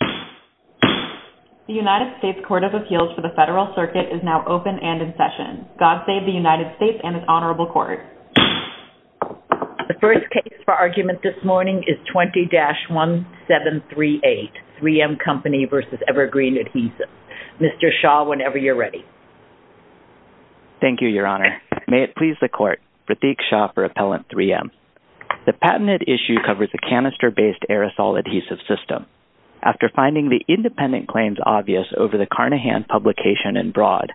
The United States Court of Appeals for the Federal Circuit is now open and in session. God save the United States and its Honorable Court. The first case for argument this morning is 20-1738, 3M Company v. Evergreen Adhesives. Mr. Shaw, whenever you're ready. Thank you, Your Honor. May it please the Court, Pratik Shaw for Appellant 3M. The patented issue covers a canister-based aerosol adhesive system. After finding the independent claims obvious over the Carnahan publication and broad,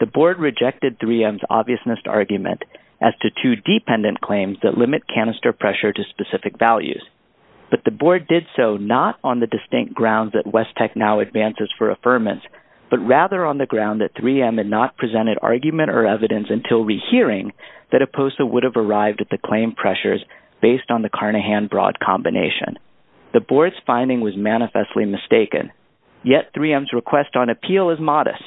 the Board rejected 3M's obviousness argument as to two dependent claims that limit canister pressure to specific values. But the Board did so not on the distinct grounds that West Tech now advances for affirmance, but rather on the ground that 3M had not presented argument or evidence until rehearing that a POSA would have arrived at the claim pressures based on the Carnahan-broad combination. The Board's finding was manifestly mistaken. Yet 3M's request on appeal is modest.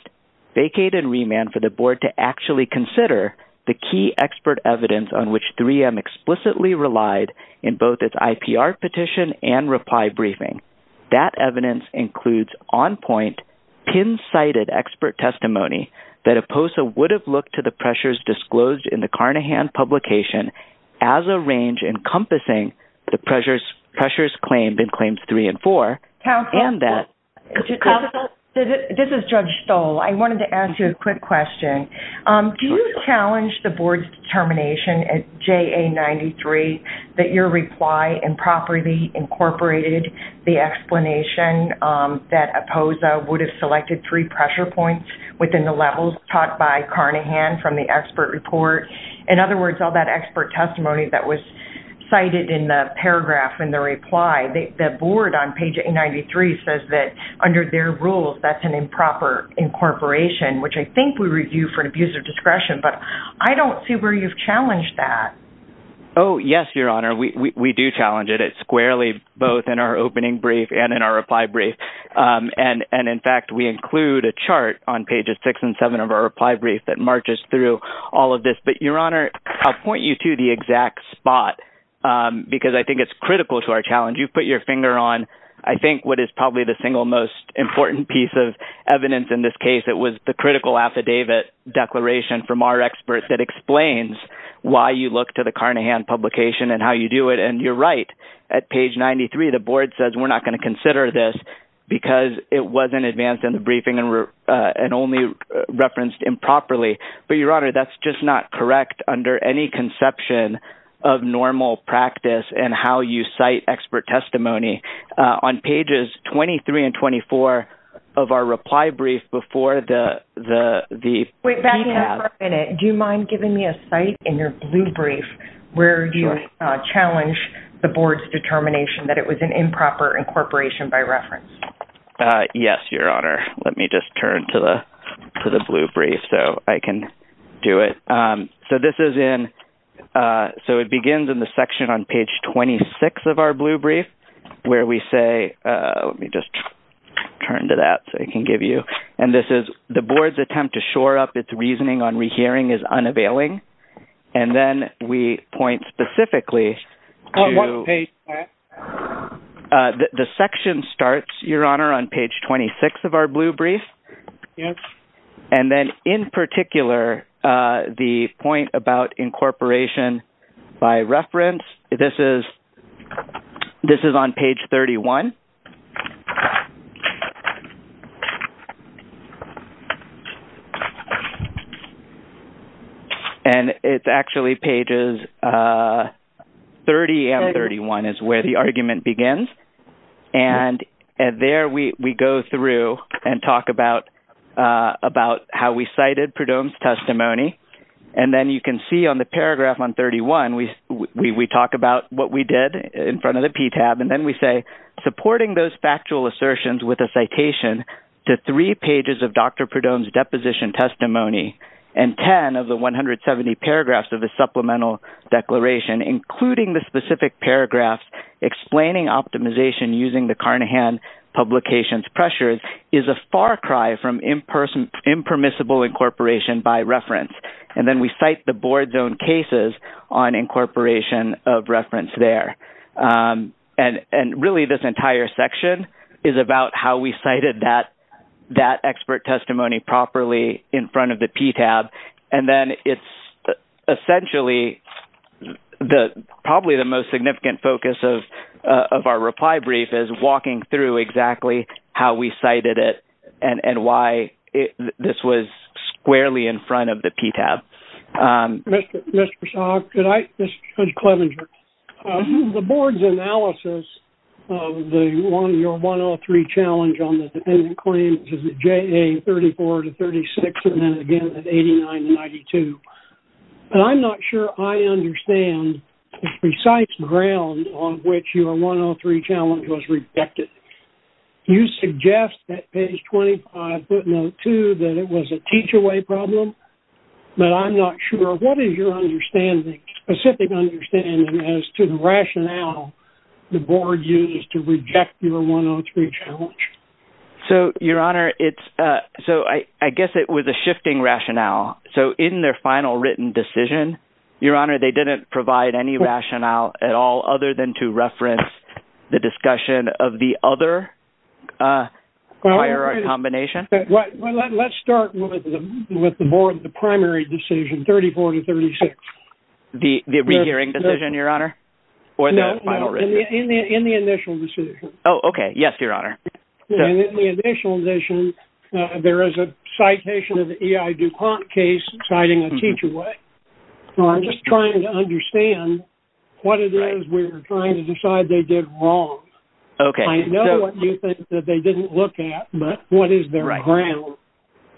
Vacate and remand for the Board to actually consider the key expert evidence on which 3M explicitly relied in both its IPR petition and reply briefing. That evidence includes on-point, pin-sighted expert testimony that a POSA would have looked to the pressures disclosed in the Carnahan publication as a range encompassing the pressures claimed in Claims 3 and 4. Counsel, this is Judge Stoll. I wanted to ask you a quick question. Do you challenge the Board's determination at JA93 that your reply improperly incorporated the explanation that a POSA would have selected three pressure points within the levels taught by Carnahan from the expert report? In other words, all that expert testimony that was cited in the paragraph in the reply, the Board on page 893 says that under their rules, that's an improper incorporation, which I think we review for an abuse of discretion. But I don't see where you've challenged that. Oh, yes, Your Honor. We do challenge it squarely both in our opening brief and in our reply brief. And, in fact, we include a chart on pages 6 and 7 of our reply brief that marches through all of this. But, Your Honor, I'll point you to the exact spot because I think it's critical to our challenge. You've put your finger on, I think, what is probably the single most important piece of evidence in this case. It was the critical affidavit declaration from our experts that explains why you look to the Carnahan publication and how you do it, and you're right. At page 93, the Board says we're not going to consider this because it wasn't advanced in the briefing and only referenced improperly. But, Your Honor, that's just not correct under any conception of normal practice and how you cite expert testimony on pages 23 and 24 of our reply brief before the PTAB. Do you mind giving me a cite in your blue brief where you challenge the Board's determination that it was an improper incorporation by reference? Yes, Your Honor. Let me just turn to the blue brief so I can do it. So this is in – so it begins in the section on page 26 of our blue brief where we say – let me just turn to that so I can give you – and this is the Board's attempt to shore up its reasoning on rehearing is unavailing. And then we point specifically to – On what page, Pat? The section starts, Your Honor, on page 26 of our blue brief. Yes. And then in particular, the point about incorporation by reference, this is on page 31. And it's actually pages 30 and 31 is where the argument begins. And there we go through and talk about how we cited Perdomo's testimony. And then you can see on the paragraph on 31, we talk about what we did in front of the PTAB. And then we say, supporting those factual assertions with a citation to three pages of Dr. Perdomo's deposition testimony and 10 of the 170 paragraphs of the supplemental declaration, including the specific paragraphs explaining optimization using the Carnahan publication's pressures, is a far cry from impermissible incorporation by reference. And then we cite the Board's own cases on incorporation of reference there. And really, this entire section is about how we cited that expert testimony properly in front of the PTAB. And then it's essentially – probably the most significant focus of our reply brief is walking through exactly how we cited it and why this was squarely in front of the PTAB. Mr. Salk, could I – this is Judge Clevenger. The Board's analysis of your 103 challenge on the dependent claims is at JA 34 to 36 and then again at 89 to 92. And I'm not sure I understand the precise ground on which your 103 challenge was rejected. You suggest at page 25, footnote 2, that it was a teach-away problem. But I'm not sure. What is your understanding – specific understanding as to the rationale the Board used to reject your 103 challenge? So, Your Honor, it's – so I guess it was a shifting rationale. So in their final written decision, Your Honor, they didn't provide any rationale at all other than to reference the discussion of the other prior combination? Well, let's start with the Board, the primary decision, 34 to 36. The re-hearing decision, Your Honor? No, no, in the initial decision. Oh, okay. Yes, Your Honor. In the initial decision, there is a citation of the E.I. DuPont case citing a teach-away. So I'm just trying to understand what it is we're trying to decide they did wrong. I know what you think that they didn't look at, but what is their ground?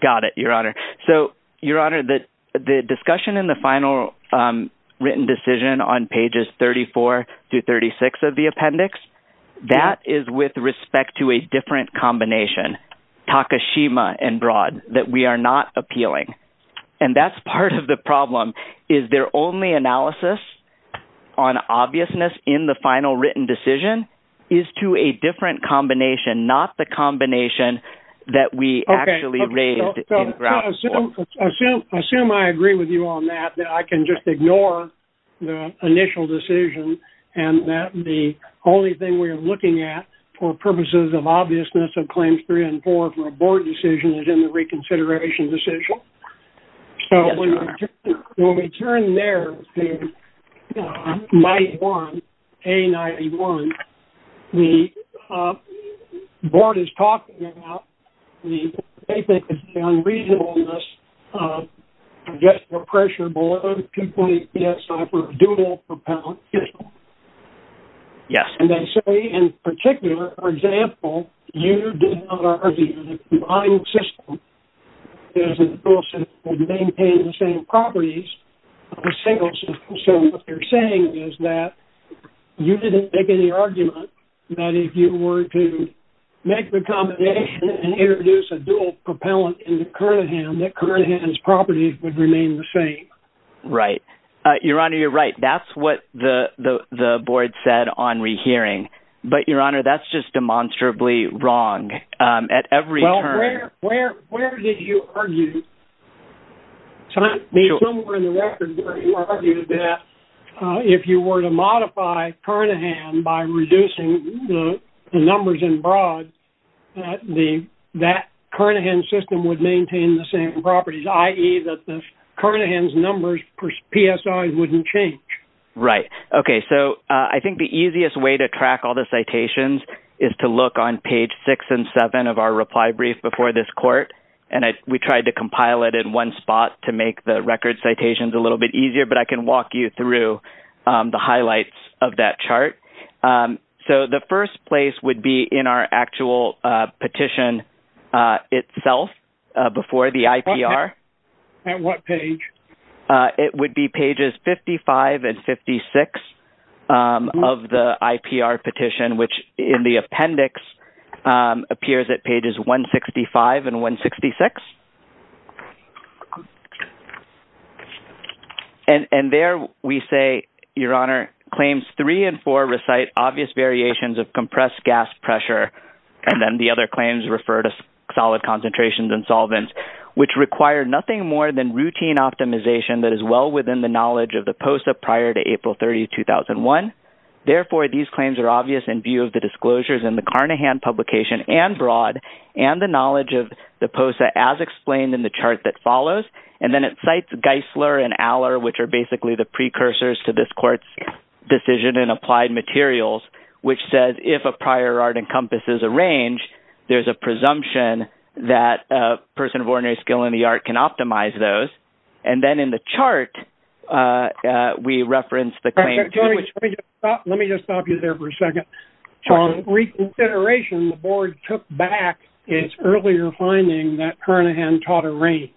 Got it, Your Honor. So, Your Honor, the discussion in the final written decision on pages 34 to 36 of the appendix, that is with respect to a different combination, Takashima and Broad, that we are not appealing. And that's part of the problem. Is their only analysis on obviousness in the final written decision is to a different combination, not the combination that we actually raised? Assume I agree with you on that, that I can just ignore the initial decision and that the only thing we are looking at for purposes of obviousness of claims three and four for a Board decision is in the reconsideration decision. When we turn there to A91, the Board is talking about the unreasonableness of getting the pressure below the 2.8 PSI for a dual propellant fission. And they say in particular, for example, you did not argue that the ionic system is a dual system that maintains the same properties of a single system. So what they're saying is that you didn't make any argument that if you were to make the combination and introduce a dual propellant into Kernaghan, that Kernaghan's properties would remain the same. Right. Your Honor, you're right. That's what the Board said on rehearing. But Your Honor, that's just demonstrably wrong at every turn. Where did you argue that if you were to modify Kernaghan by reducing the numbers in broad, that Kernaghan system would maintain the same properties, i.e., that Kernaghan's numbers for PSI wouldn't change? Right. Okay. So I think the easiest way to track all the citations is to look on page six and seven of our reply brief before this court. And we tried to compile it in one spot to make the record citations a little bit easier. But I can walk you through the highlights of that chart. So the first place would be in our actual petition itself before the IPR. At what page? It would be pages 55 and 56 of the IPR petition, which in the appendix appears at pages 165 and 166. And there we say, Your Honor, claims three and four recite obvious variations of compressed gas pressure, and then the other claims refer to solid concentrations and solvents, which require nothing more than routine optimization that is well within the knowledge of the POSA prior to April 30, 2001. Therefore, these claims are obvious in view of the disclosures in the Kernaghan publication and broad and the knowledge of the POSA as explained in the chart that follows. And then it cites Geisler and Aller, which are basically the precursors to this court's decision in applied materials, which says if a prior art encompasses a range, there's a presumption that a person of ordinary skill in the art can optimize those. And then in the chart, we reference the claim. Let me just stop you there for a second. From reconsideration, the board took back its earlier finding that Kernaghan taught a range.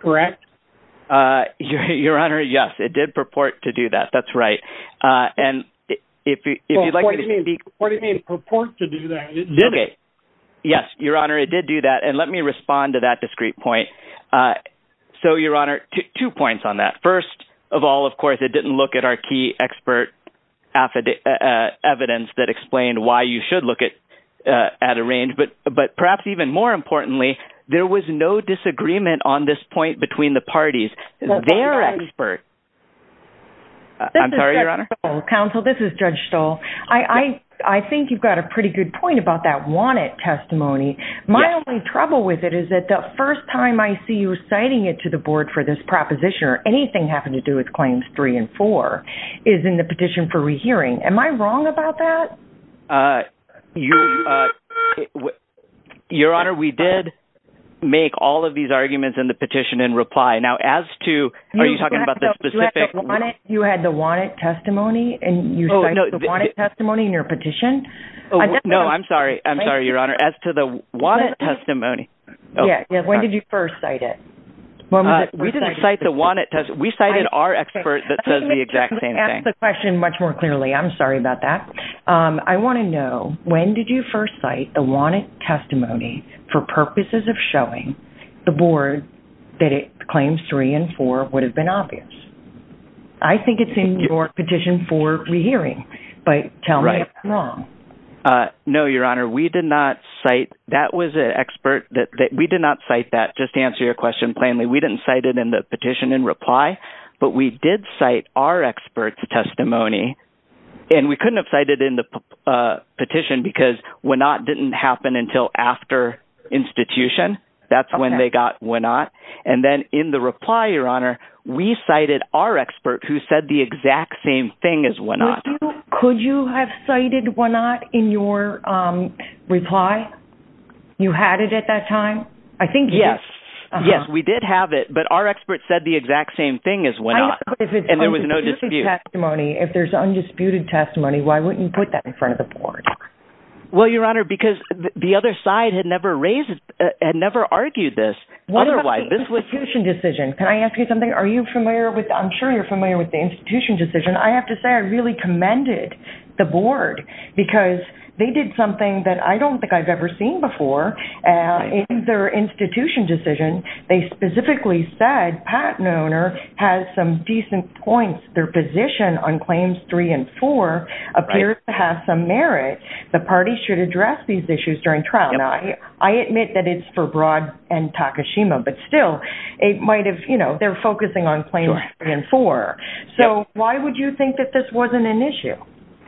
Correct? Your Honor, yes, it did purport to do that. That's right. And if you'd like to... What do you mean purport to do that? Did it? Yes, Your Honor, it did do that. And let me respond to that discrete point. So, Your Honor, two points on that. First of all, of course, it didn't look at our key expert evidence that explained why you should look at a range. But perhaps even more importantly, there was no disagreement on this point between the parties. Their expert. I'm sorry, Your Honor. Counsel, this is Judge Stoll. I think you've got a pretty good point about that wanted testimony. My only trouble with it is that the first time I see you citing it to the board for this proposition or anything having to do with Claims 3 and 4 is in the petition for rehearing. Am I wrong about that? Your Honor, we did make all of these arguments in the petition in reply. Now, as to... Are you talking about the specific... You had the wanted testimony and you cite the wanted testimony in your petition? No, I'm sorry. I'm sorry, Your Honor. As to the wanted testimony... When did you first cite it? We didn't cite the wanted testimony. We cited our expert that says the exact same thing. Let me ask the question much more clearly. I'm sorry about that. I want to know, when did you first cite the wanted testimony for purposes of showing the board that Claims 3 and 4 would have been obvious? I think it's in your petition for rehearing, but tell me if I'm wrong. No, Your Honor. We did not cite... That was an expert that... We did not cite that. Just answer your question plainly. We didn't cite it in the petition in reply, but we did cite our expert's testimony. And we couldn't have cited it in the petition because WANOT didn't happen until after institution. That's when they got WANOT. And then in the reply, Your Honor, we cited our expert who said the exact same thing as WANOT. Could you have cited WANOT in your reply? You had it at that time? I think yes. Yes, we did have it, but our expert said the exact same thing as WANOT. And there was no dispute. If it's undisputed testimony, if there's undisputed testimony, why wouldn't you put that in front of the board? Well, Your Honor, because the other side had never argued this otherwise. What about the institution decision? Can I ask you something? Are you familiar with... I'm sure you're familiar with the institution decision. I have to say I really commended the board because they did something that I don't think I've ever seen before. In their institution decision, they specifically said patent owner has some decent points. Their position on Claims 3 and 4 appears to have some merit. The party should address these issues during trial. Now, I admit that it's for Broad and Takashima, but still, they're focusing on Claims 3 and 4. So why would you think that this wasn't an issue?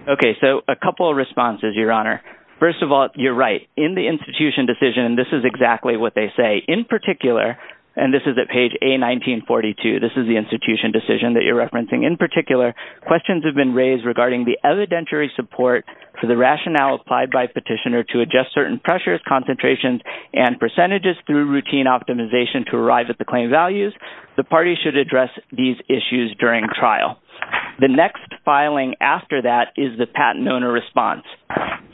Okay, so a couple of responses, Your Honor. First of all, you're right. In the institution decision, this is exactly what they say. In particular, and this is at page A1942, this is the institution decision that you're referencing. In particular, questions have been raised regarding the evidentiary support for the rationale applied by petitioner to adjust certain pressures, concentrations, and percentages through routine optimization to arrive at the claim values. The party should address these issues during trial. The next filing after that is the patent owner response.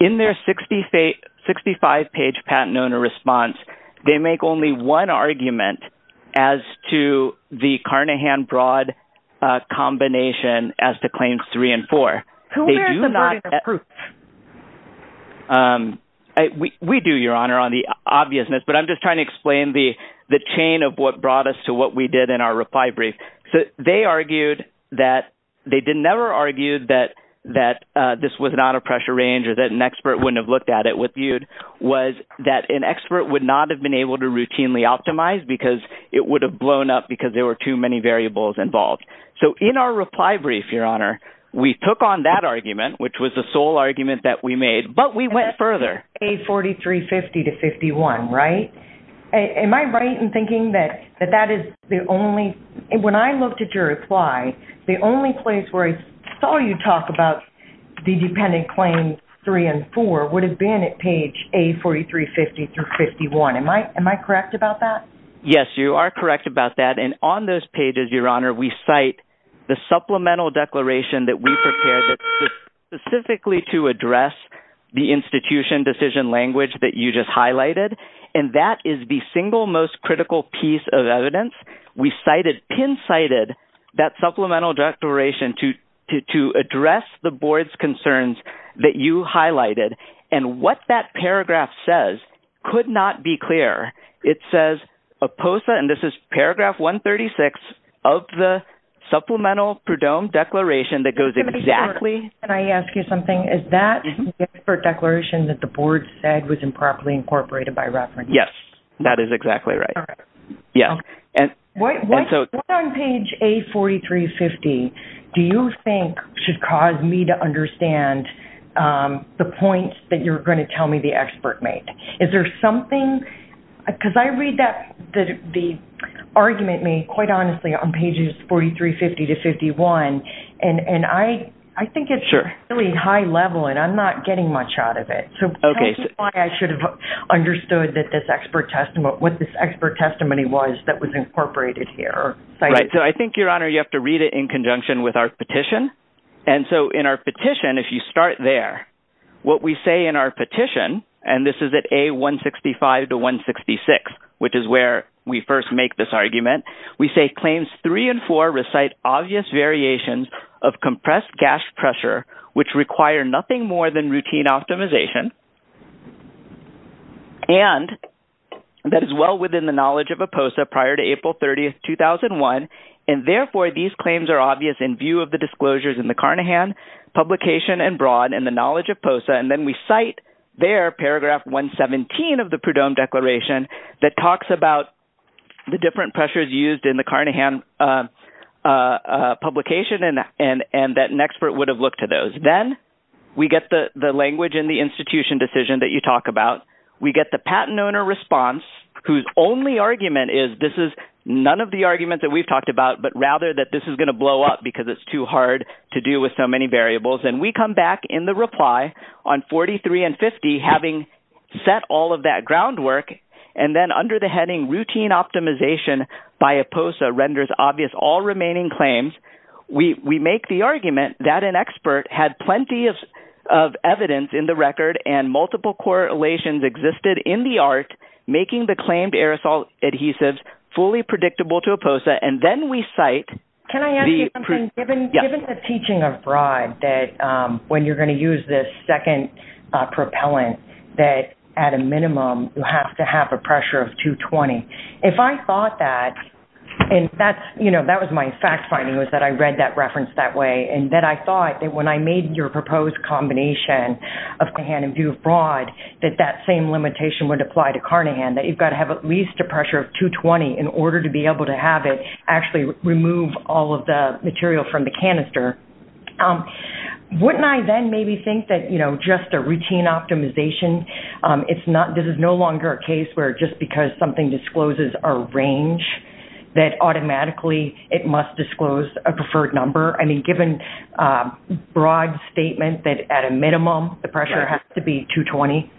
In their 65-page patent owner response, they make only one argument as to the Carnahan-Broad combination as to Claims 3 and 4. Who wears the murder proof? We do, Your Honor, on the obviousness, but I'm just trying to explain the chain of what brought us to what we did in our reply brief. So they argued that – they never argued that this was not a pressure range or that an expert wouldn't have looked at it. What they argued was that an expert would not have been able to routinely optimize because it would have blown up because there were too many variables involved. So in our reply brief, Your Honor, we took on that argument, which was the sole argument that we made, but we went further. Page 4350-51, right? Am I right in thinking that that is the only – when I looked at your reply, the only place where I saw you talk about the dependent claims 3 and 4 would have been at page A4350-51. Am I correct about that? Yes, you are correct about that, and on those pages, Your Honor, we cite the supplemental declaration that we prepared specifically to address the institution decision language that you just highlighted. And that is the single most critical piece of evidence. We cited – pin-cited that supplemental declaration to address the board's concerns that you highlighted. And what that paragraph says could not be clearer. It says – and this is paragraph 136 of the supplemental Prudhomme declaration that goes exactly – Can I ask you something? Is that the expert declaration that the board said was improperly incorporated by reference? Yes, that is exactly right. All right. Yes. And so – What on page A4350 do you think should cause me to understand the points that you're going to tell me the expert made? Is there something – because I read that – the argument made, quite honestly, on pages 4350-51, and I think it's really high level, and I'm not getting much out of it. So I think I should have understood that this expert testimony – what this expert testimony was that was incorporated here. Right. So I think, Your Honor, you have to read it in conjunction with our petition. And so in our petition, if you start there, what we say in our petition – and this is at A165-166, which is where we first make this argument – we say claims three and four recite obvious variations of compressed gas pressure, which require nothing more than routine optimization, and that is well within the knowledge of IPOSA prior to April 30, 2001. And therefore, these claims are obvious in view of the disclosures in the Carnahan publication and broad in the knowledge of IPOSA. And then we cite there paragraph 117 of the Prudhomme Declaration that talks about the different pressures used in the Carnahan publication and that an expert would have looked to those. Then we get the language in the institution decision that you talk about. We get the patent owner response whose only argument is this is none of the arguments that we've talked about, but rather that this is going to blow up because it's too hard to do with so many variables. And we come back in the reply on 43 and 50 having set all of that groundwork, and then under the heading routine optimization by IPOSA renders obvious all remaining claims. We make the argument that an expert had plenty of evidence in the record and multiple correlations existed in the art making the claimed aerosol adhesives fully predictable to IPOSA, and then we cite – Can I ask you something? Yes. Given the teaching abroad that when you're going to use this second propellant that at a minimum you have to have a pressure of 220, if I thought that, and that was my fact finding was that I read that reference that way, and that I thought that when I made your proposed combination of Carnahan and view abroad that that same limitation would apply to Carnahan, that you've got to have at least a pressure of 220 in order to be able to have it actually remove all of the material from the canister, wouldn't I then maybe think that just a routine optimization, this is no longer a case where just because something discloses a range that automatically it must disclose a preferred number? I mean, given broad statement that at a minimum the pressure has to be 220.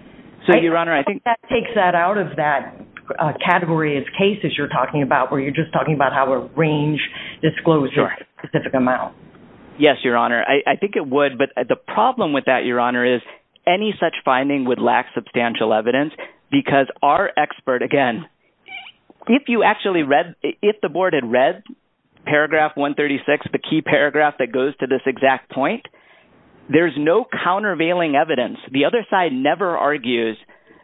So, Your Honor, I think – I think that takes that out of that category of cases you're talking about where you're just talking about how a range discloses a specific amount. Yes, Your Honor. I think it would, but the problem with that, Your Honor, is any such finding would lack substantial evidence because our expert, again, if you actually read – if the board had read paragraph 136, the key paragraph that goes to this exact point, there's no countervailing evidence. The other side never argues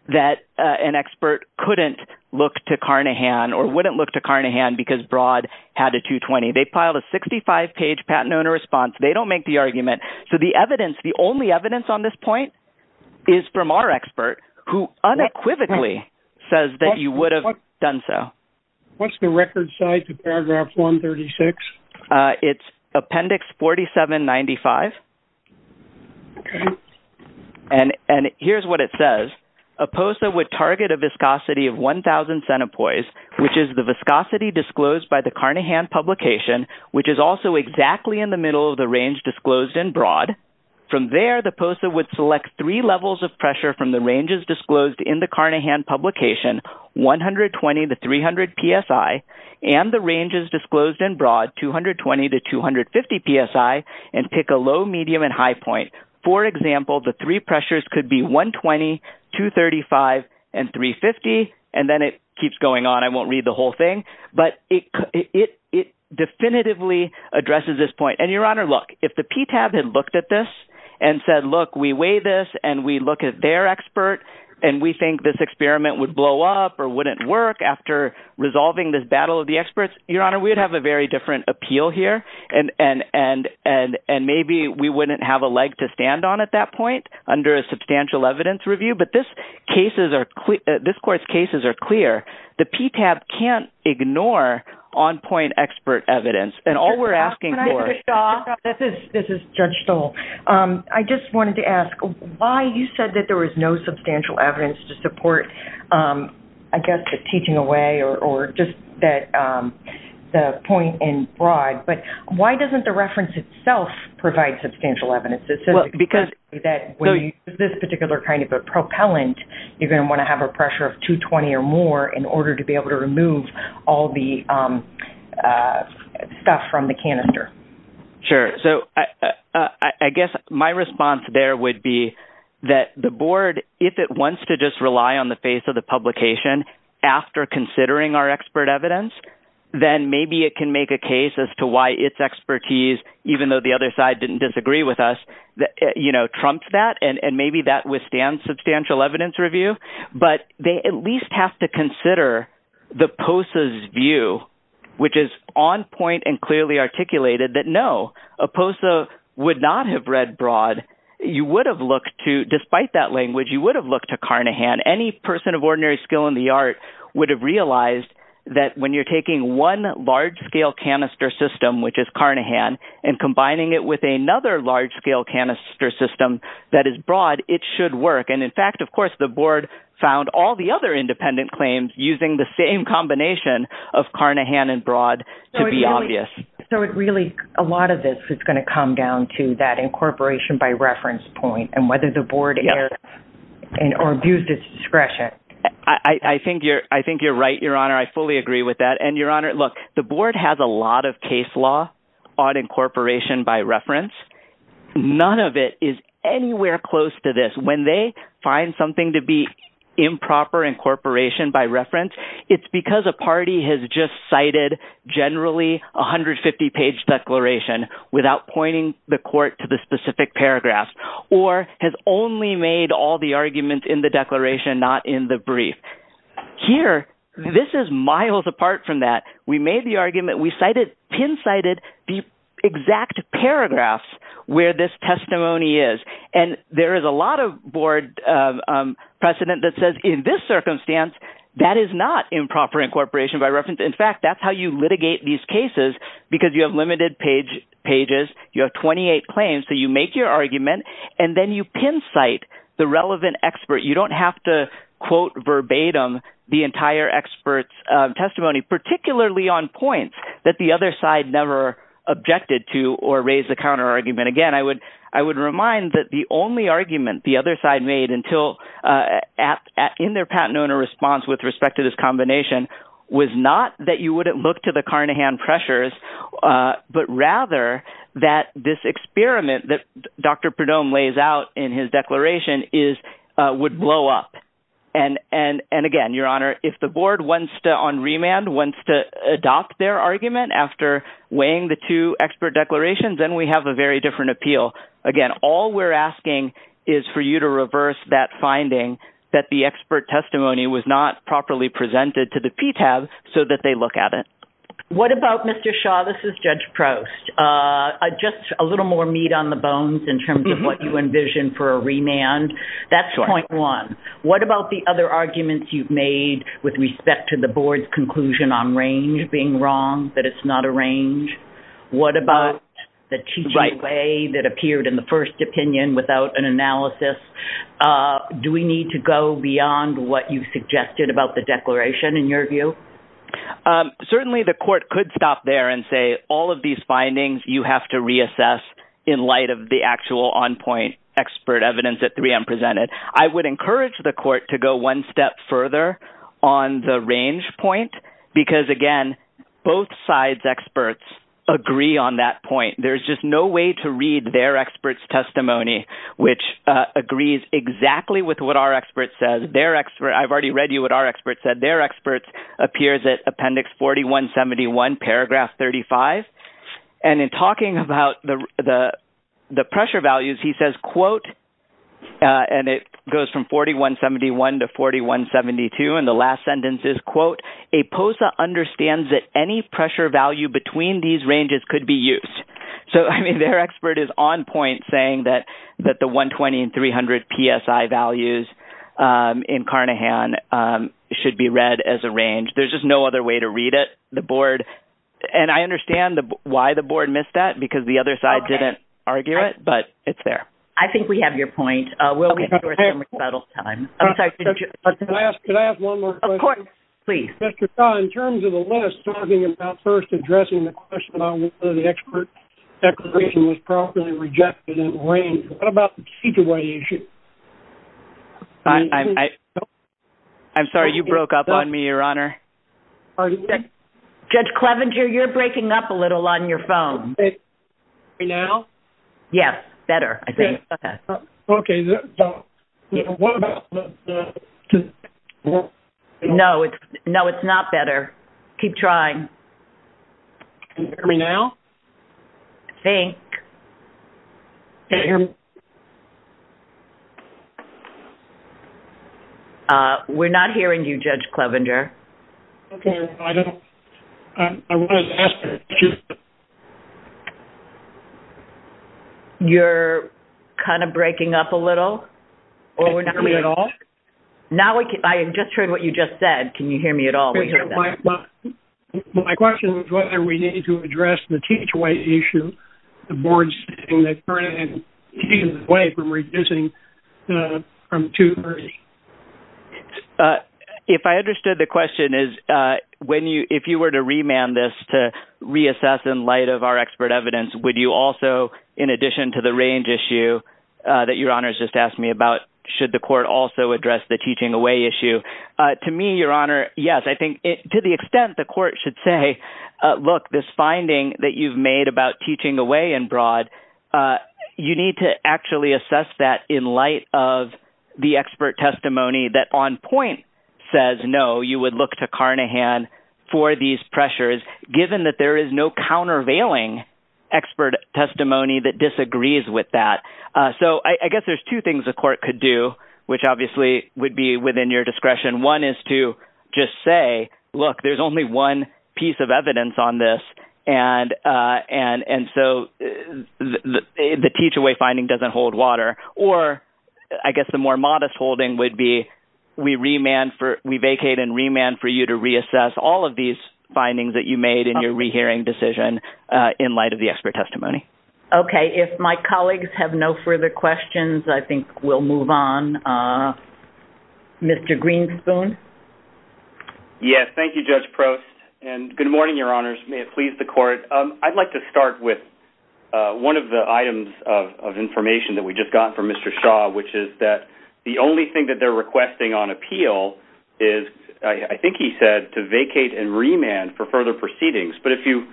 that an expert couldn't look to Carnahan or wouldn't look to Carnahan because broad had a 220. They piled a 65-page patent owner response. They don't make the argument. So, the evidence, the only evidence on this point is from our expert who unequivocally says that you would have done so. What's the record size of paragraph 136? It's appendix 4795. Okay. And here's what it says. A POSA would target a viscosity of 1,000 centipoise, which is the viscosity disclosed by the Carnahan publication, which is also exactly in the middle of the range disclosed in broad. From there, the POSA would select three levels of pressure from the ranges disclosed in the Carnahan publication, 120 to 300 psi, and the ranges disclosed in broad, 220 to 250 psi, and pick a low, medium, and high point. For example, the three pressures could be 120, 235, and 350, and then it keeps going on. I won't read the whole thing, but it definitively addresses this point. And, Your Honor, look, if the PTAB had looked at this and said, look, we weigh this, and we look at their expert, and we think this experiment would blow up or wouldn't work after resolving this battle of the experts, Your Honor, we would have a very different appeal here, and maybe we wouldn't have a leg to stand on at that point under a substantial evidence review. But this Court's cases are clear. The PTAB can't ignore on-point expert evidence. And all we're asking for — Judge Stahl, this is Judge Stahl. I just wanted to ask, why you said that there was no substantial evidence to support, I guess, the teaching away or just the point in broad, but why doesn't the reference itself provide substantial evidence? It says exactly that when you use this particular kind of a propellant, you're going to want to have a pressure of 220 or more in order to be able to remove all the stuff from the canister. Sure. So I guess my response there would be that the board, if it wants to just rely on the face of the publication after considering our expert evidence, then maybe it can make a case as to why its expertise, even though the other side didn't disagree with us, you know, trumped that, and maybe that withstands substantial evidence review. But they at least have to consider the POSA's view, which is on-point and clearly articulated, that no, a POSA would not have read broad. You would have looked to — despite that language, you would have looked to Carnahan. Any person of ordinary skill in the art would have realized that when you're taking one large-scale canister system, which is Carnahan, and combining it with another large-scale canister system that is broad, it should work. And in fact, of course, the board found all the other independent claims using the same combination of Carnahan and broad to be obvious. So it really — a lot of this is going to come down to that incorporation by reference point and whether the board erred or abused its discretion. I think you're right, Your Honor. I fully agree with that. And, Your Honor, look, the board has a lot of case law on incorporation by reference. None of it is anywhere close to this. When they find something to be improper incorporation by reference, it's because a party has just cited generally a 150-page declaration without pointing the court to the specific paragraph, or has only made all the arguments in the declaration, not in the brief. Here, this is miles apart from that. We made the argument. We cited — pin-cited the exact paragraphs where this testimony is. And there is a lot of board precedent that says, in this circumstance, that is not improper incorporation by reference. In fact, that's how you litigate these cases because you have limited pages. You have 28 claims, so you make your argument, and then you pin-cite the relevant expert. You don't have to quote verbatim the entire expert's testimony, particularly on points that the other side never objected to or raised a counterargument. Again, I would remind that the only argument the other side made in their patent owner response with respect to this combination was not that you wouldn't look to the Carnahan pressures, but rather that this experiment that Dr. Perdomo lays out in his declaration would blow up. And again, Your Honor, if the board on remand wants to adopt their argument after weighing the two expert declarations, then we have a very different appeal. Again, all we're asking is for you to reverse that finding that the expert testimony was not properly presented to the PTAB so that they look at it. What about, Mr. Shaw, this is Judge Proust, just a little more meat on the bones in terms of what you envision for a remand. That's point one. What about the other arguments you've made with respect to the board's conclusion on range being wrong, that it's not a range? What about the teaching way that appeared in the first opinion without an analysis? Do we need to go beyond what you suggested about the declaration in your view? Certainly the court could stop there and say all of these findings you have to reassess in light of the actual on-point expert evidence that 3M presented. I would encourage the court to go one step further on the range point because, again, both sides' experts agree on that point. There's just no way to read their expert's testimony, which agrees exactly with what our expert said. I've already read you what our expert said. Their expert appears at Appendix 4171, paragraph 35. And in talking about the pressure values, he says, quote, and it goes from 4171 to 4172, and the last sentence is, quote, a POSA understands that any pressure value between these ranges could be used. So, I mean, their expert is on point saying that the 120 and 300 PSI values in Carnahan should be read as a range. There's just no other way to read it. And I understand why the board missed that because the other side didn't argue it, but it's there. I think we have your point. Can I ask one more question? Of course. Please. In terms of the list, talking about first addressing the question on whether the expert declaration was properly rejected in range, what about the teach-away issue? I'm sorry, you broke up on me, Your Honor. Judge Clevenger, you're breaking up a little on your phone. Now? Yes. Better, I think. Okay. No, it's not better. Keep trying. Now? I think. We're not hearing you, Judge Clevenger. Okay. I don't. I wanted to ask a question. You're kind of breaking up a little? Can you hear me at all? Now we can. I just heard what you just said. Can you hear me at all? We hear that. My question was whether we needed to address the teach-away issue. The board's saying that Carnahan is keeping away from reducing from 230. If I understood the question is, if you were to remand this to reassess in light of our expert evidence, would you also, in addition to the range issue that Your Honor has just asked me about, should the court also address the teach-away issue? To me, Your Honor, yes. I think to the extent the court should say, look, this finding that you've made about teaching away and broad, you need to actually assess that in light of the expert testimony that on point says no, you would look to Carnahan for these pressures, given that there is no countervailing expert testimony that disagrees with that. So I guess there's two things the court could do, which obviously would be within your discretion. One is to just say, look, there's only one piece of evidence on this, and so the teach-away finding doesn't hold water. Or I guess the more modest holding would be we vacate and remand for you to reassess all of these findings that you made in your rehearing decision in light of the expert testimony. Okay. If my colleagues have no further questions, I think we'll move on. Mr. Greenspoon? Yes. Thank you, Judge Prost. And good morning, Your Honors. May it please the court. I'd like to start with one of the items of information that we just got from Mr. Shaw, which is that the only thing that they're requesting on appeal is, I think he said, to vacate and remand for further proceedings. But if you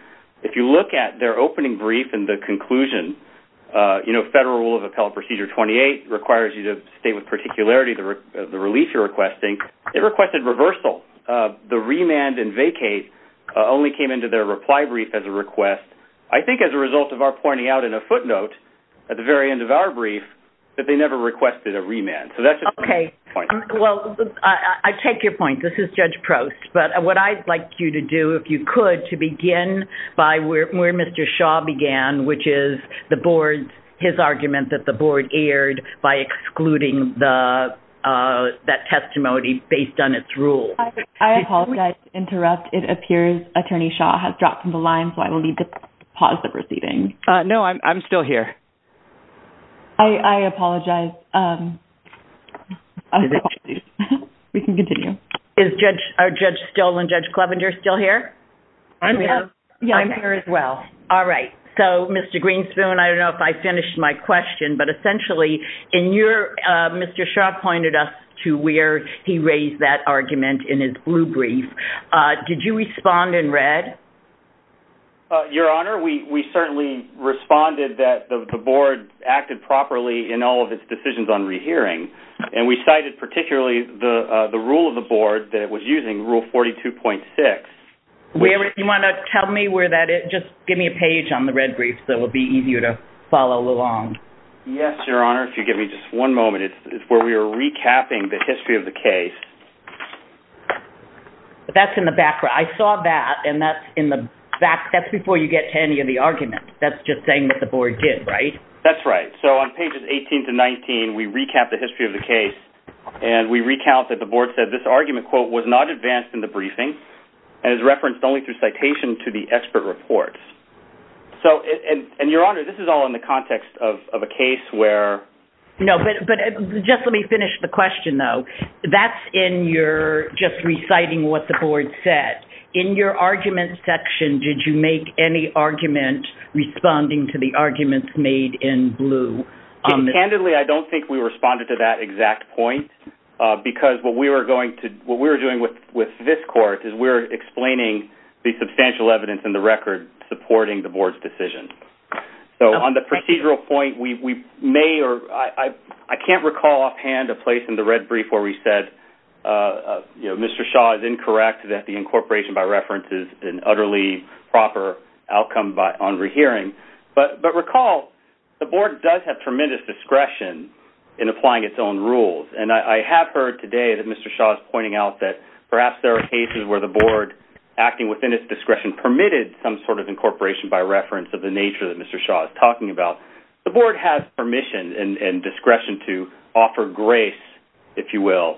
look at their opening brief and the conclusion, you know, Federal Rule of Appellate Procedure 28 requires you to state with particularity the release you're requesting. It requested reversal. The remand and vacate only came into their reply brief as a request. I think as a result of our pointing out in a footnote at the very end of our brief that they never requested a remand. Okay. Well, I take your point. This is Judge Prost. But what I'd like you to do, if you could, to begin by where Mr. Shaw began, which is his argument that the board erred by excluding that testimony based on its rule. I apologize to interrupt. It appears Attorney Shaw has dropped from the line, so I will need to pause the proceeding. No, I'm still here. I apologize. We can continue. Is Judge Still and Judge Clevenger still here? I'm here as well. All right. So, Mr. Greenspoon, I don't know if I finished my question, but essentially, Mr. Shaw pointed us to where he raised that argument in his blue brief. Did you respond in red? Your Honor, we certainly responded that the board acted properly in all of its decisions on rehearing. And we cited particularly the rule of the board that it was using, Rule 42.6. You want to tell me where that is? Just give me a page on the red brief so it will be easier to follow along. Yes, Your Honor, if you give me just one moment. It's where we were recapping the history of the case. That's in the back. I saw that, and that's in the back. That's before you get to any of the arguments. That's just saying what the board did, right? That's right. So, on pages 18 to 19, we recap the history of the case, and we recount that the board said this argument, quote, was not advanced in the briefing and is referenced only through citation to the expert reports. So, and Your Honor, this is all in the context of a case where – No, but just let me finish the question, though. That's in your just reciting what the board said. In your argument section, did you make any argument responding to the arguments made in blue? Candidly, I don't think we responded to that exact point because what we were going to – what we were doing with this court is we were explaining the substantial evidence in the record supporting the board's decision. So, on the procedural point, we may or – I can't recall offhand a place in the red brief where we said, you know, Mr. Shaw is incorrect that the incorporation by reference is an utterly proper outcome on rehearing. But recall, the board does have tremendous discretion in applying its own rules. And I have heard today that Mr. Shaw is pointing out that perhaps there are cases where the board, acting within its discretion, permitted some sort of incorporation by reference of the nature that Mr. Shaw is talking about. The board has permission and discretion to offer grace, if you will,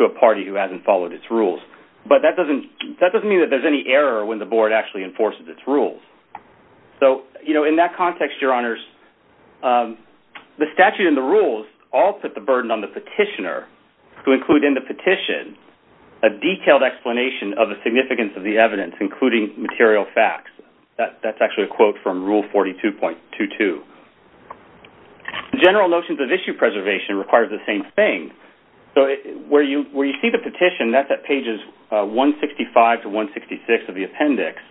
to a party who hasn't followed its rules. But that doesn't mean that there's any error when the board actually enforces its rules. So, you know, in that context, Your Honors, the statute and the rules all put the burden on the petitioner to include in the petition a detailed explanation of the significance of the evidence, including material facts. That's actually a quote from Rule 42.22. General notions of issue preservation require the same thing. So, where you see the petition, that's at pages 165 to 166 of the appendix.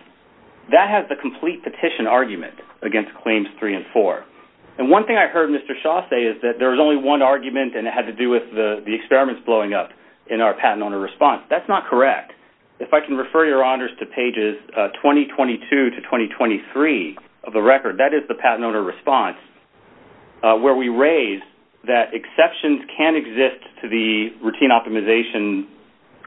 That has the complete petition argument against Claims 3 and 4. And one thing I heard Mr. Shaw say is that there was only one argument and it had to do with the experiments blowing up in our patent owner response. That's not correct. If I can refer Your Honors to pages 2022 to 2023 of the record, that is the patent owner response, where we raise that exceptions can exist to the routine optimization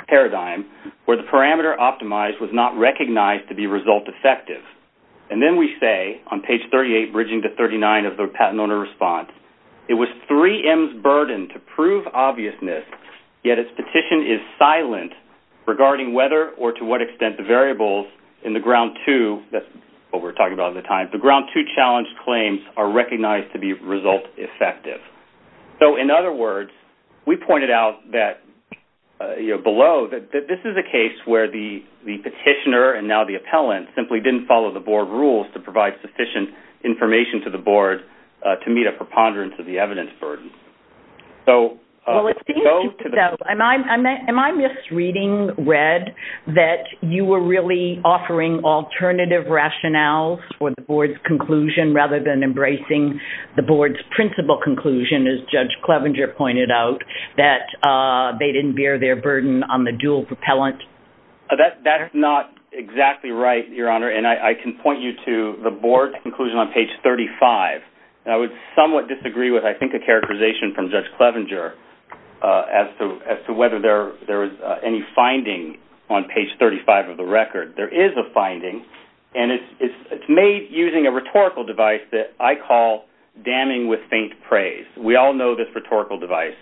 paradigm where the parameter optimized was not recognized to be result effective. And then we say, on page 38, bridging to 39 of the patent owner response, it was 3M's burden to prove obviousness, yet its petition is silent regarding whether or to what extent the variables in the Ground 2, that's what we're talking about at the time, the Ground 2 Challenge Claims are recognized to be result effective. So, in other words, we pointed out below that this is a case where the petitioner and now the appellant simply didn't follow the board rules to provide sufficient information to the board to meet a preponderance of the evidence burden. Am I misreading, Red, that you were really offering alternative rationales for the board's conclusion rather than embracing the board's principal conclusion, as Judge Clevenger pointed out, that they didn't bear their burden on the dual propellant? That is not exactly right, Your Honor, and I can point you to the board's conclusion on page 35. I would somewhat disagree with, I think, a characterization from Judge Clevenger as to whether there is any finding on page 35 of the record. There is a finding, and it's made using a rhetorical device that I call damning with faint praise. We all know this rhetorical device.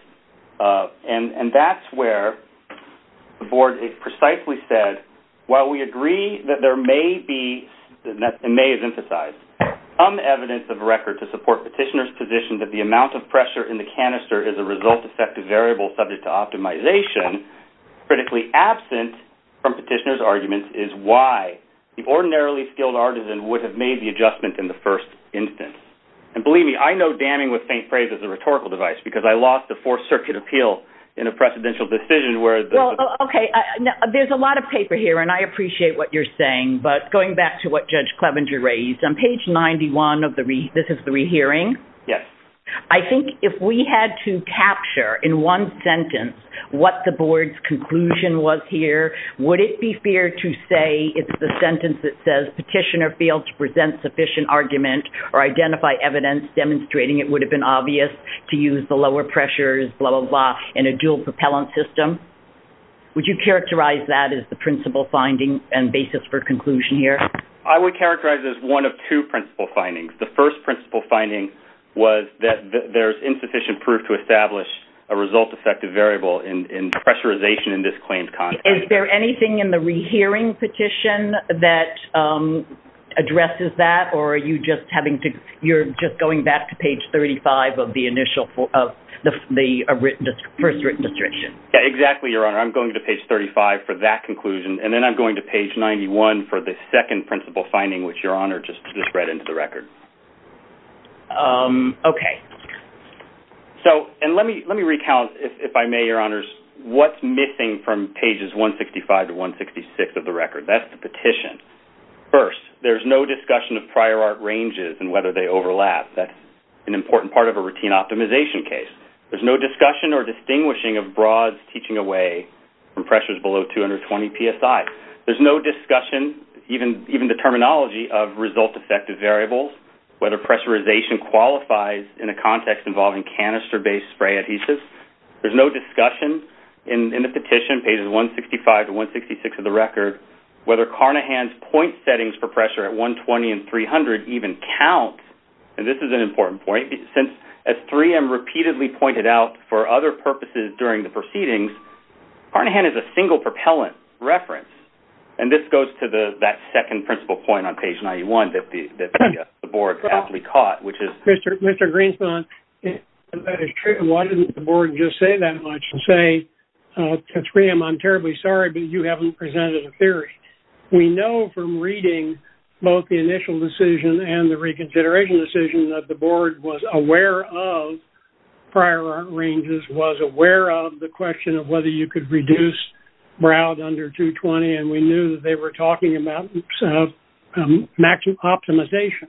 And that's where the board has precisely said, while we agree that there may be, and may have emphasized, some evidence of record to support petitioner's position that the amount of pressure in the canister is a result effective variable subject to optimization, critically absent from petitioner's argument is why the ordinarily skilled artisan would have made the adjustment in the first instance. And believe me, I know damning with faint praise is a rhetorical device because I lost the Fourth Circuit appeal in a precedential decision where the- Well, okay, there's a lot of paper here, and I appreciate what you're saying, but going back to what Judge Clevenger raised, on page 91, this is the rehearing? Yes. I think if we had to capture in one sentence what the board's conclusion was here, would it be fair to say it's the sentence that says petitioner failed to present sufficient argument or identify evidence demonstrating it would have been obvious to use the lower pressures, blah, blah, blah, in a dual propellant system? Would you characterize that as the principle finding and basis for conclusion here? I would characterize it as one of two principle findings. The first principle finding was that there's insufficient proof to establish a result effective variable in pressurization in this claimed context. Is there anything in the rehearing petition that addresses that, or are you just going back to page 35 of the first written description? Exactly, Your Honor. I'm going to page 35 for that conclusion, and then I'm going to page 91 for the second principle finding, which, Your Honor, just read into the record. Okay. Let me recount, if I may, Your Honors, what's missing from pages 165 to 166 of the record. That's the petition. First, there's no discussion of prior art ranges and whether they overlap. That's an important part of a routine optimization case. There's no discussion or distinguishing of broads teaching away from pressures below 220 PSI. There's no discussion, even the terminology, of result effective variables, whether pressurization qualifies in a context involving canister-based spray adhesives. There's no discussion in the petition, pages 165 to 166 of the record, whether Carnahan's point settings for pressure at 120 and 300 even count, and this is an important point. As 3M repeatedly pointed out for other purposes during the proceedings, Carnahan is a single propellant reference, and this goes to that second principle point on page 91 that the board aptly caught, which is- Mr. Greenspan, that is true. Why didn't the board just say that much and say, 3M, I'm terribly sorry, but you haven't presented a theory? We know from reading both the initial decision and the reconsideration decision that the board was aware of prior art ranges, was aware of the question of whether you could reduce broads under 220, and we knew that they were talking about matching optimization.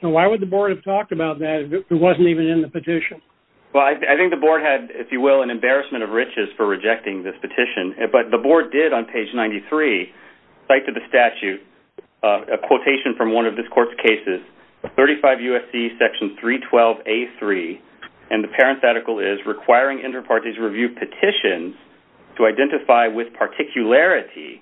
So why would the board have talked about that if it wasn't even in the petition? Well, I think the board had, if you will, an embarrassment of riches for rejecting this petition, but the board did on page 93 cite to the statute a quotation from one of this court's cases, 35 U.S.C. section 312A3, and the parenthetical is, requiring interparties review petitions to identify with particularity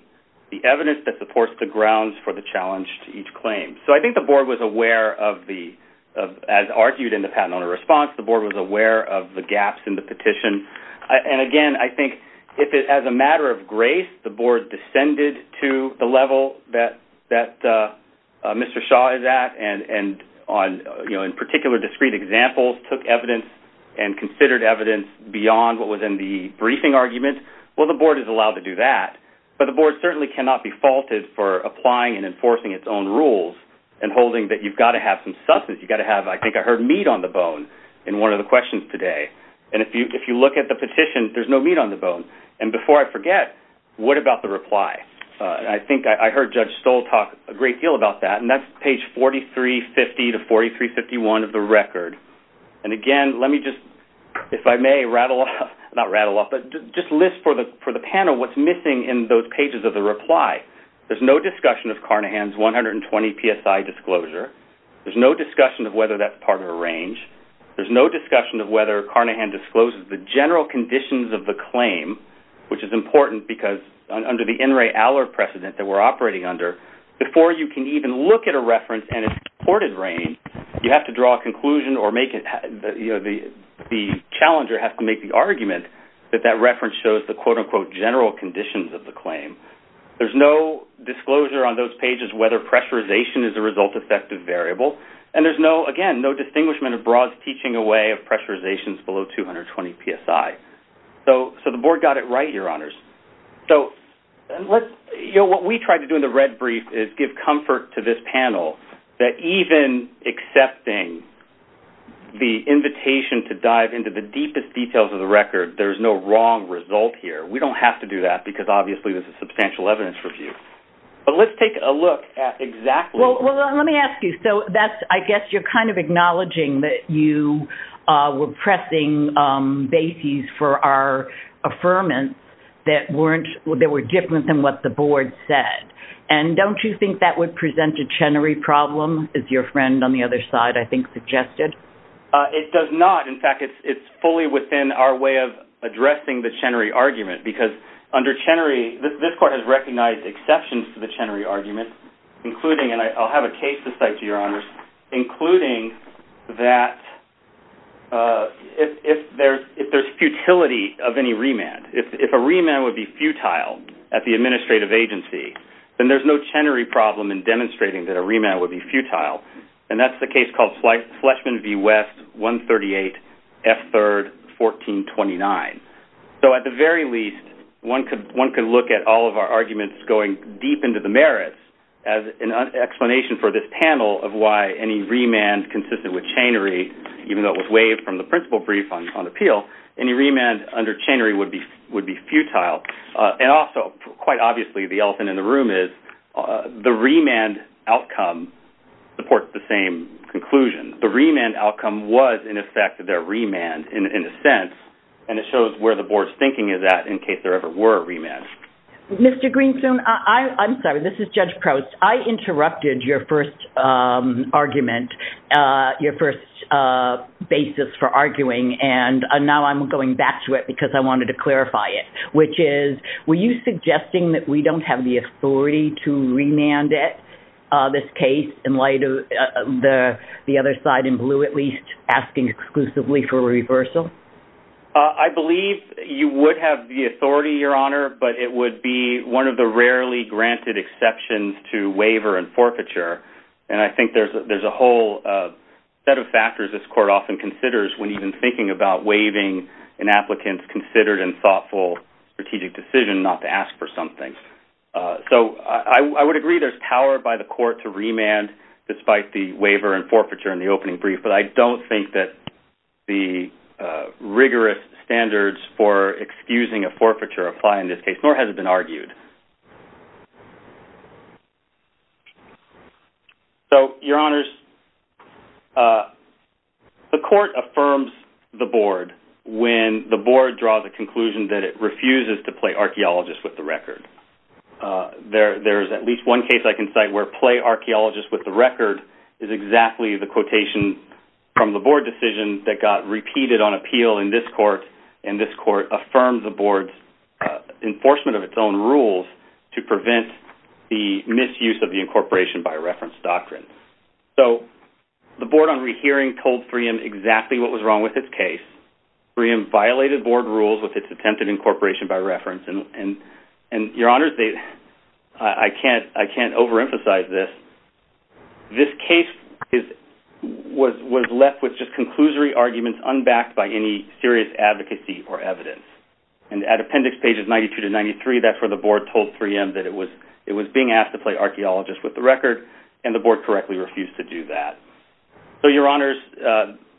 the evidence that supports the grounds for the challenge to each claim. So I think the board was aware of the-as argued in the patent owner response, the board was aware of the gaps in the petition. And again, I think if it-as a matter of grace, the board descended to the level that Mr. Shaw is at, and in particular discrete examples took evidence and considered evidence beyond what was in the briefing argument. Well, the board is allowed to do that, but the board certainly cannot be faulted for applying and enforcing its own rules and holding that you've got to have some substance. You've got to have, I think I heard meat on the bone in one of the questions today. And before I forget, what about the reply? I think I heard Judge Stoll talk a great deal about that, and that's page 4350 to 4351 of the record. And again, let me just, if I may, rattle off-not rattle off, but just list for the panel what's missing in those pages of the reply. There's no discussion of Carnahan's 120 PSI disclosure. There's no discussion of whether that's part of a range. There's no discussion of whether Carnahan discloses the general conditions of the claim, which is important, because under the In Re Aller precedent that we're operating under, before you can even look at a reference and its reported range, you have to draw a conclusion or make it, you know, the challenger has to make the argument that that reference shows the quote-unquote general conditions of the claim. There's no disclosure on those pages whether pressurization is a result-effective variable, and there's no, again, no distinguishment of broad teaching away of pressurizations below 220 PSI. So the board got it right, Your Honors. So let's, you know, what we tried to do in the red brief is give comfort to this panel that even accepting the invitation to dive into the deepest details of the record, there's no wrong result here. We don't have to do that because, obviously, this is substantial evidence review. But let's take a look at exactly- Well, let me ask you. So that's, I guess, you're kind of acknowledging that you were pressing bases for our affirmants that weren't, that were different than what the board said. And don't you think that would present a Chenery problem, as your friend on the other side, I think, suggested? It does not. In fact, it's fully within our way of addressing the Chenery argument because under Chenery, this court has recognized exceptions to the Chenery argument, including, and I'll have a case to cite to you, Your Honors, including that if there's futility of any remand, if a remand would be futile at the administrative agency, then there's no Chenery problem in demonstrating that a remand would be futile, and that's the case called Fleshman v. West, 138, F. 3rd, 1429. So at the very least, one could look at all of our arguments going deep into the merits as an explanation for this panel of why any remand consistent with Chenery, even though it was waived from the principal brief on appeal, any remand under Chenery would be futile. And also, quite obviously, the elephant in the room is the remand outcome supports the same conclusion. The remand outcome was, in effect, their remand, in a sense, and it shows where the board's thinking of that in case there ever were a remand. Mr. Greenspoon, I'm sorry, this is Judge Prost. I interrupted your first argument, your first basis for arguing, and now I'm going back to it because I wanted to clarify it, which is, were you suggesting that we don't have the authority to remand it, this case, in light of the other side in blue, at least asking exclusively for a reversal? I believe you would have the authority, Your Honor, but it would be one of the rarely granted exceptions to waiver and forfeiture, and I think there's a whole set of factors this court often considers when even thinking about waiving an applicant's considered and thoughtful strategic decision not to ask for something. So I would agree there's power by the court to remand, despite the waiver and forfeiture in the opening brief, but I don't think that the rigorous standards for excusing a forfeiture apply in this case, nor has it been argued. So, Your Honors, the court affirms the board when the board draws a conclusion that it refuses to play archaeologist with the record. There's at least one case I can cite where play archaeologist with the record is exactly the quotation from the board decision that got repeated on appeal in this court, and this court affirmed the board's enforcement of its own rules to prevent the misuse of the incorporation by reference doctrine. So the board on rehearing told FREEM exactly what was wrong with its case. FREEM violated board rules with its attempted incorporation by reference, and, Your Honors, I can't overemphasize this. This case was left with just conclusory arguments unbacked by any serious advocacy or evidence. And at appendix pages 92 to 93, that's where the board told FREEM that it was being asked to play archaeologist with the record, and the board correctly refused to do that. So, Your Honors,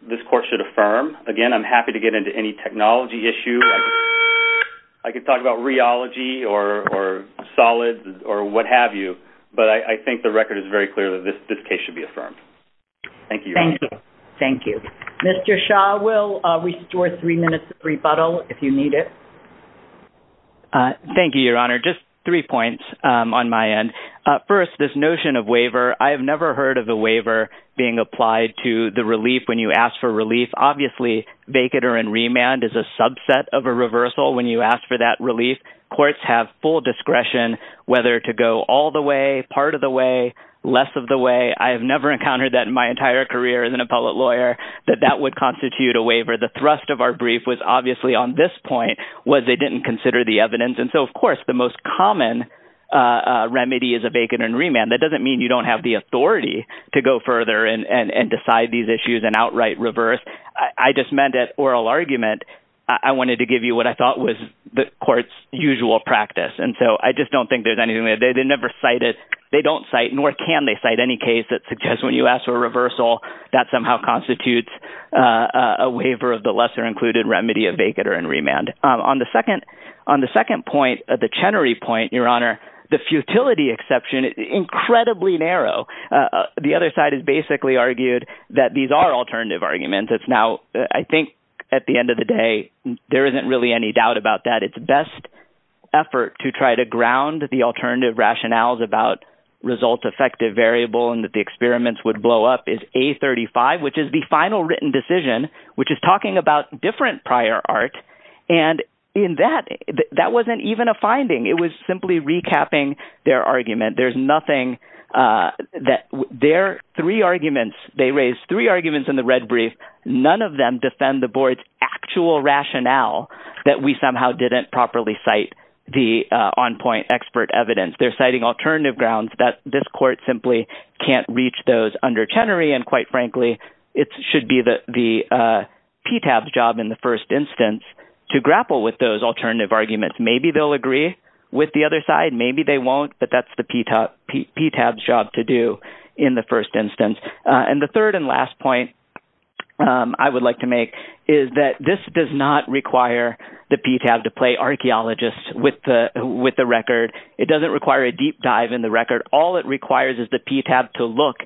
this court should affirm. Again, I'm happy to get into any technology issue. I could talk about rheology or solids or what have you, but I think the record is very clear that this case should be affirmed. Thank you, Your Honor. Thank you. Thank you. Mr. Shah will restore three minutes of rebuttal if you need it. Thank you, Your Honor. Just three points on my end. First, this notion of waiver. I have never heard of the waiver being applied to the relief when you ask for relief. Courts have full discretion whether to go all the way, part of the way, less of the way. I have never encountered that in my entire career as an appellate lawyer, that that would constitute a waiver. The thrust of our brief was obviously on this point was they didn't consider the evidence. And so, of course, the most common remedy is a vacant and remand. That doesn't mean you don't have the authority to go further and decide these issues and outright reverse. I just meant that oral argument, I wanted to give you what I thought was the court's usual practice. And so I just don't think there's anything there. They never cite it. They don't cite nor can they cite any case that suggests when you ask for a reversal, that somehow constitutes a waiver of the lesser included remedy of vacant or in remand. On the second point, the Chenery point, Your Honor, the futility exception, incredibly narrow. The other side has basically argued that these are alternative arguments. It's now, I think at the end of the day, there isn't really any doubt about that. It's best effort to try to ground the alternative rationales about result effective variable and that the experiments would blow up is A35, which is the final written decision, which is talking about different prior art. And in that, that wasn't even a finding. It was simply recapping their argument. There's nothing that their three arguments, they raised three arguments in the red brief. None of them defend the board's actual rationale that we somehow didn't properly cite the on point expert evidence. They're citing alternative grounds that this court simply can't reach those under Chenery. And quite frankly, it should be the PTAB's job in the first instance to grapple with those alternative arguments. Maybe they'll agree with the other side. Maybe they won't, but that's the PTAB's job to do in the first instance. And the third and last point I would like to make is that this does not require the PTAB to play archaeologists with the record. It doesn't require a deep dive in the record. All it requires is the PTAB to look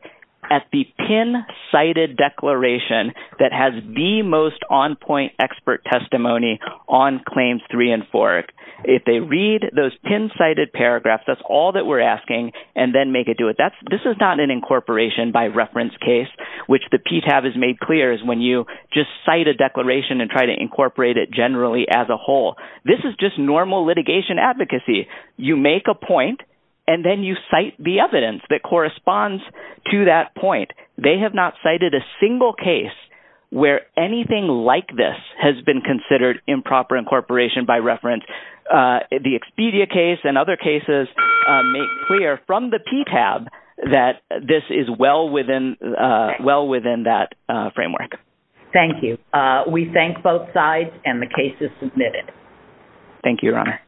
at the pin cited declaration that has the most on point expert testimony on claims three and four. If they read those pin cited paragraphs, that's all that we're asking, and then make it do it. This is not an incorporation by reference case, which the PTAB has made clear is when you just cite a declaration and try to incorporate it generally as a whole. This is just normal litigation advocacy. You make a point, and then you cite the evidence that corresponds to that point. They have not cited a single case where anything like this has been considered improper incorporation by reference. The Expedia case and other cases make clear from the PTAB that this is well within that framework. Thank you. We thank both sides, and the case is submitted. Thank you, Your Honor.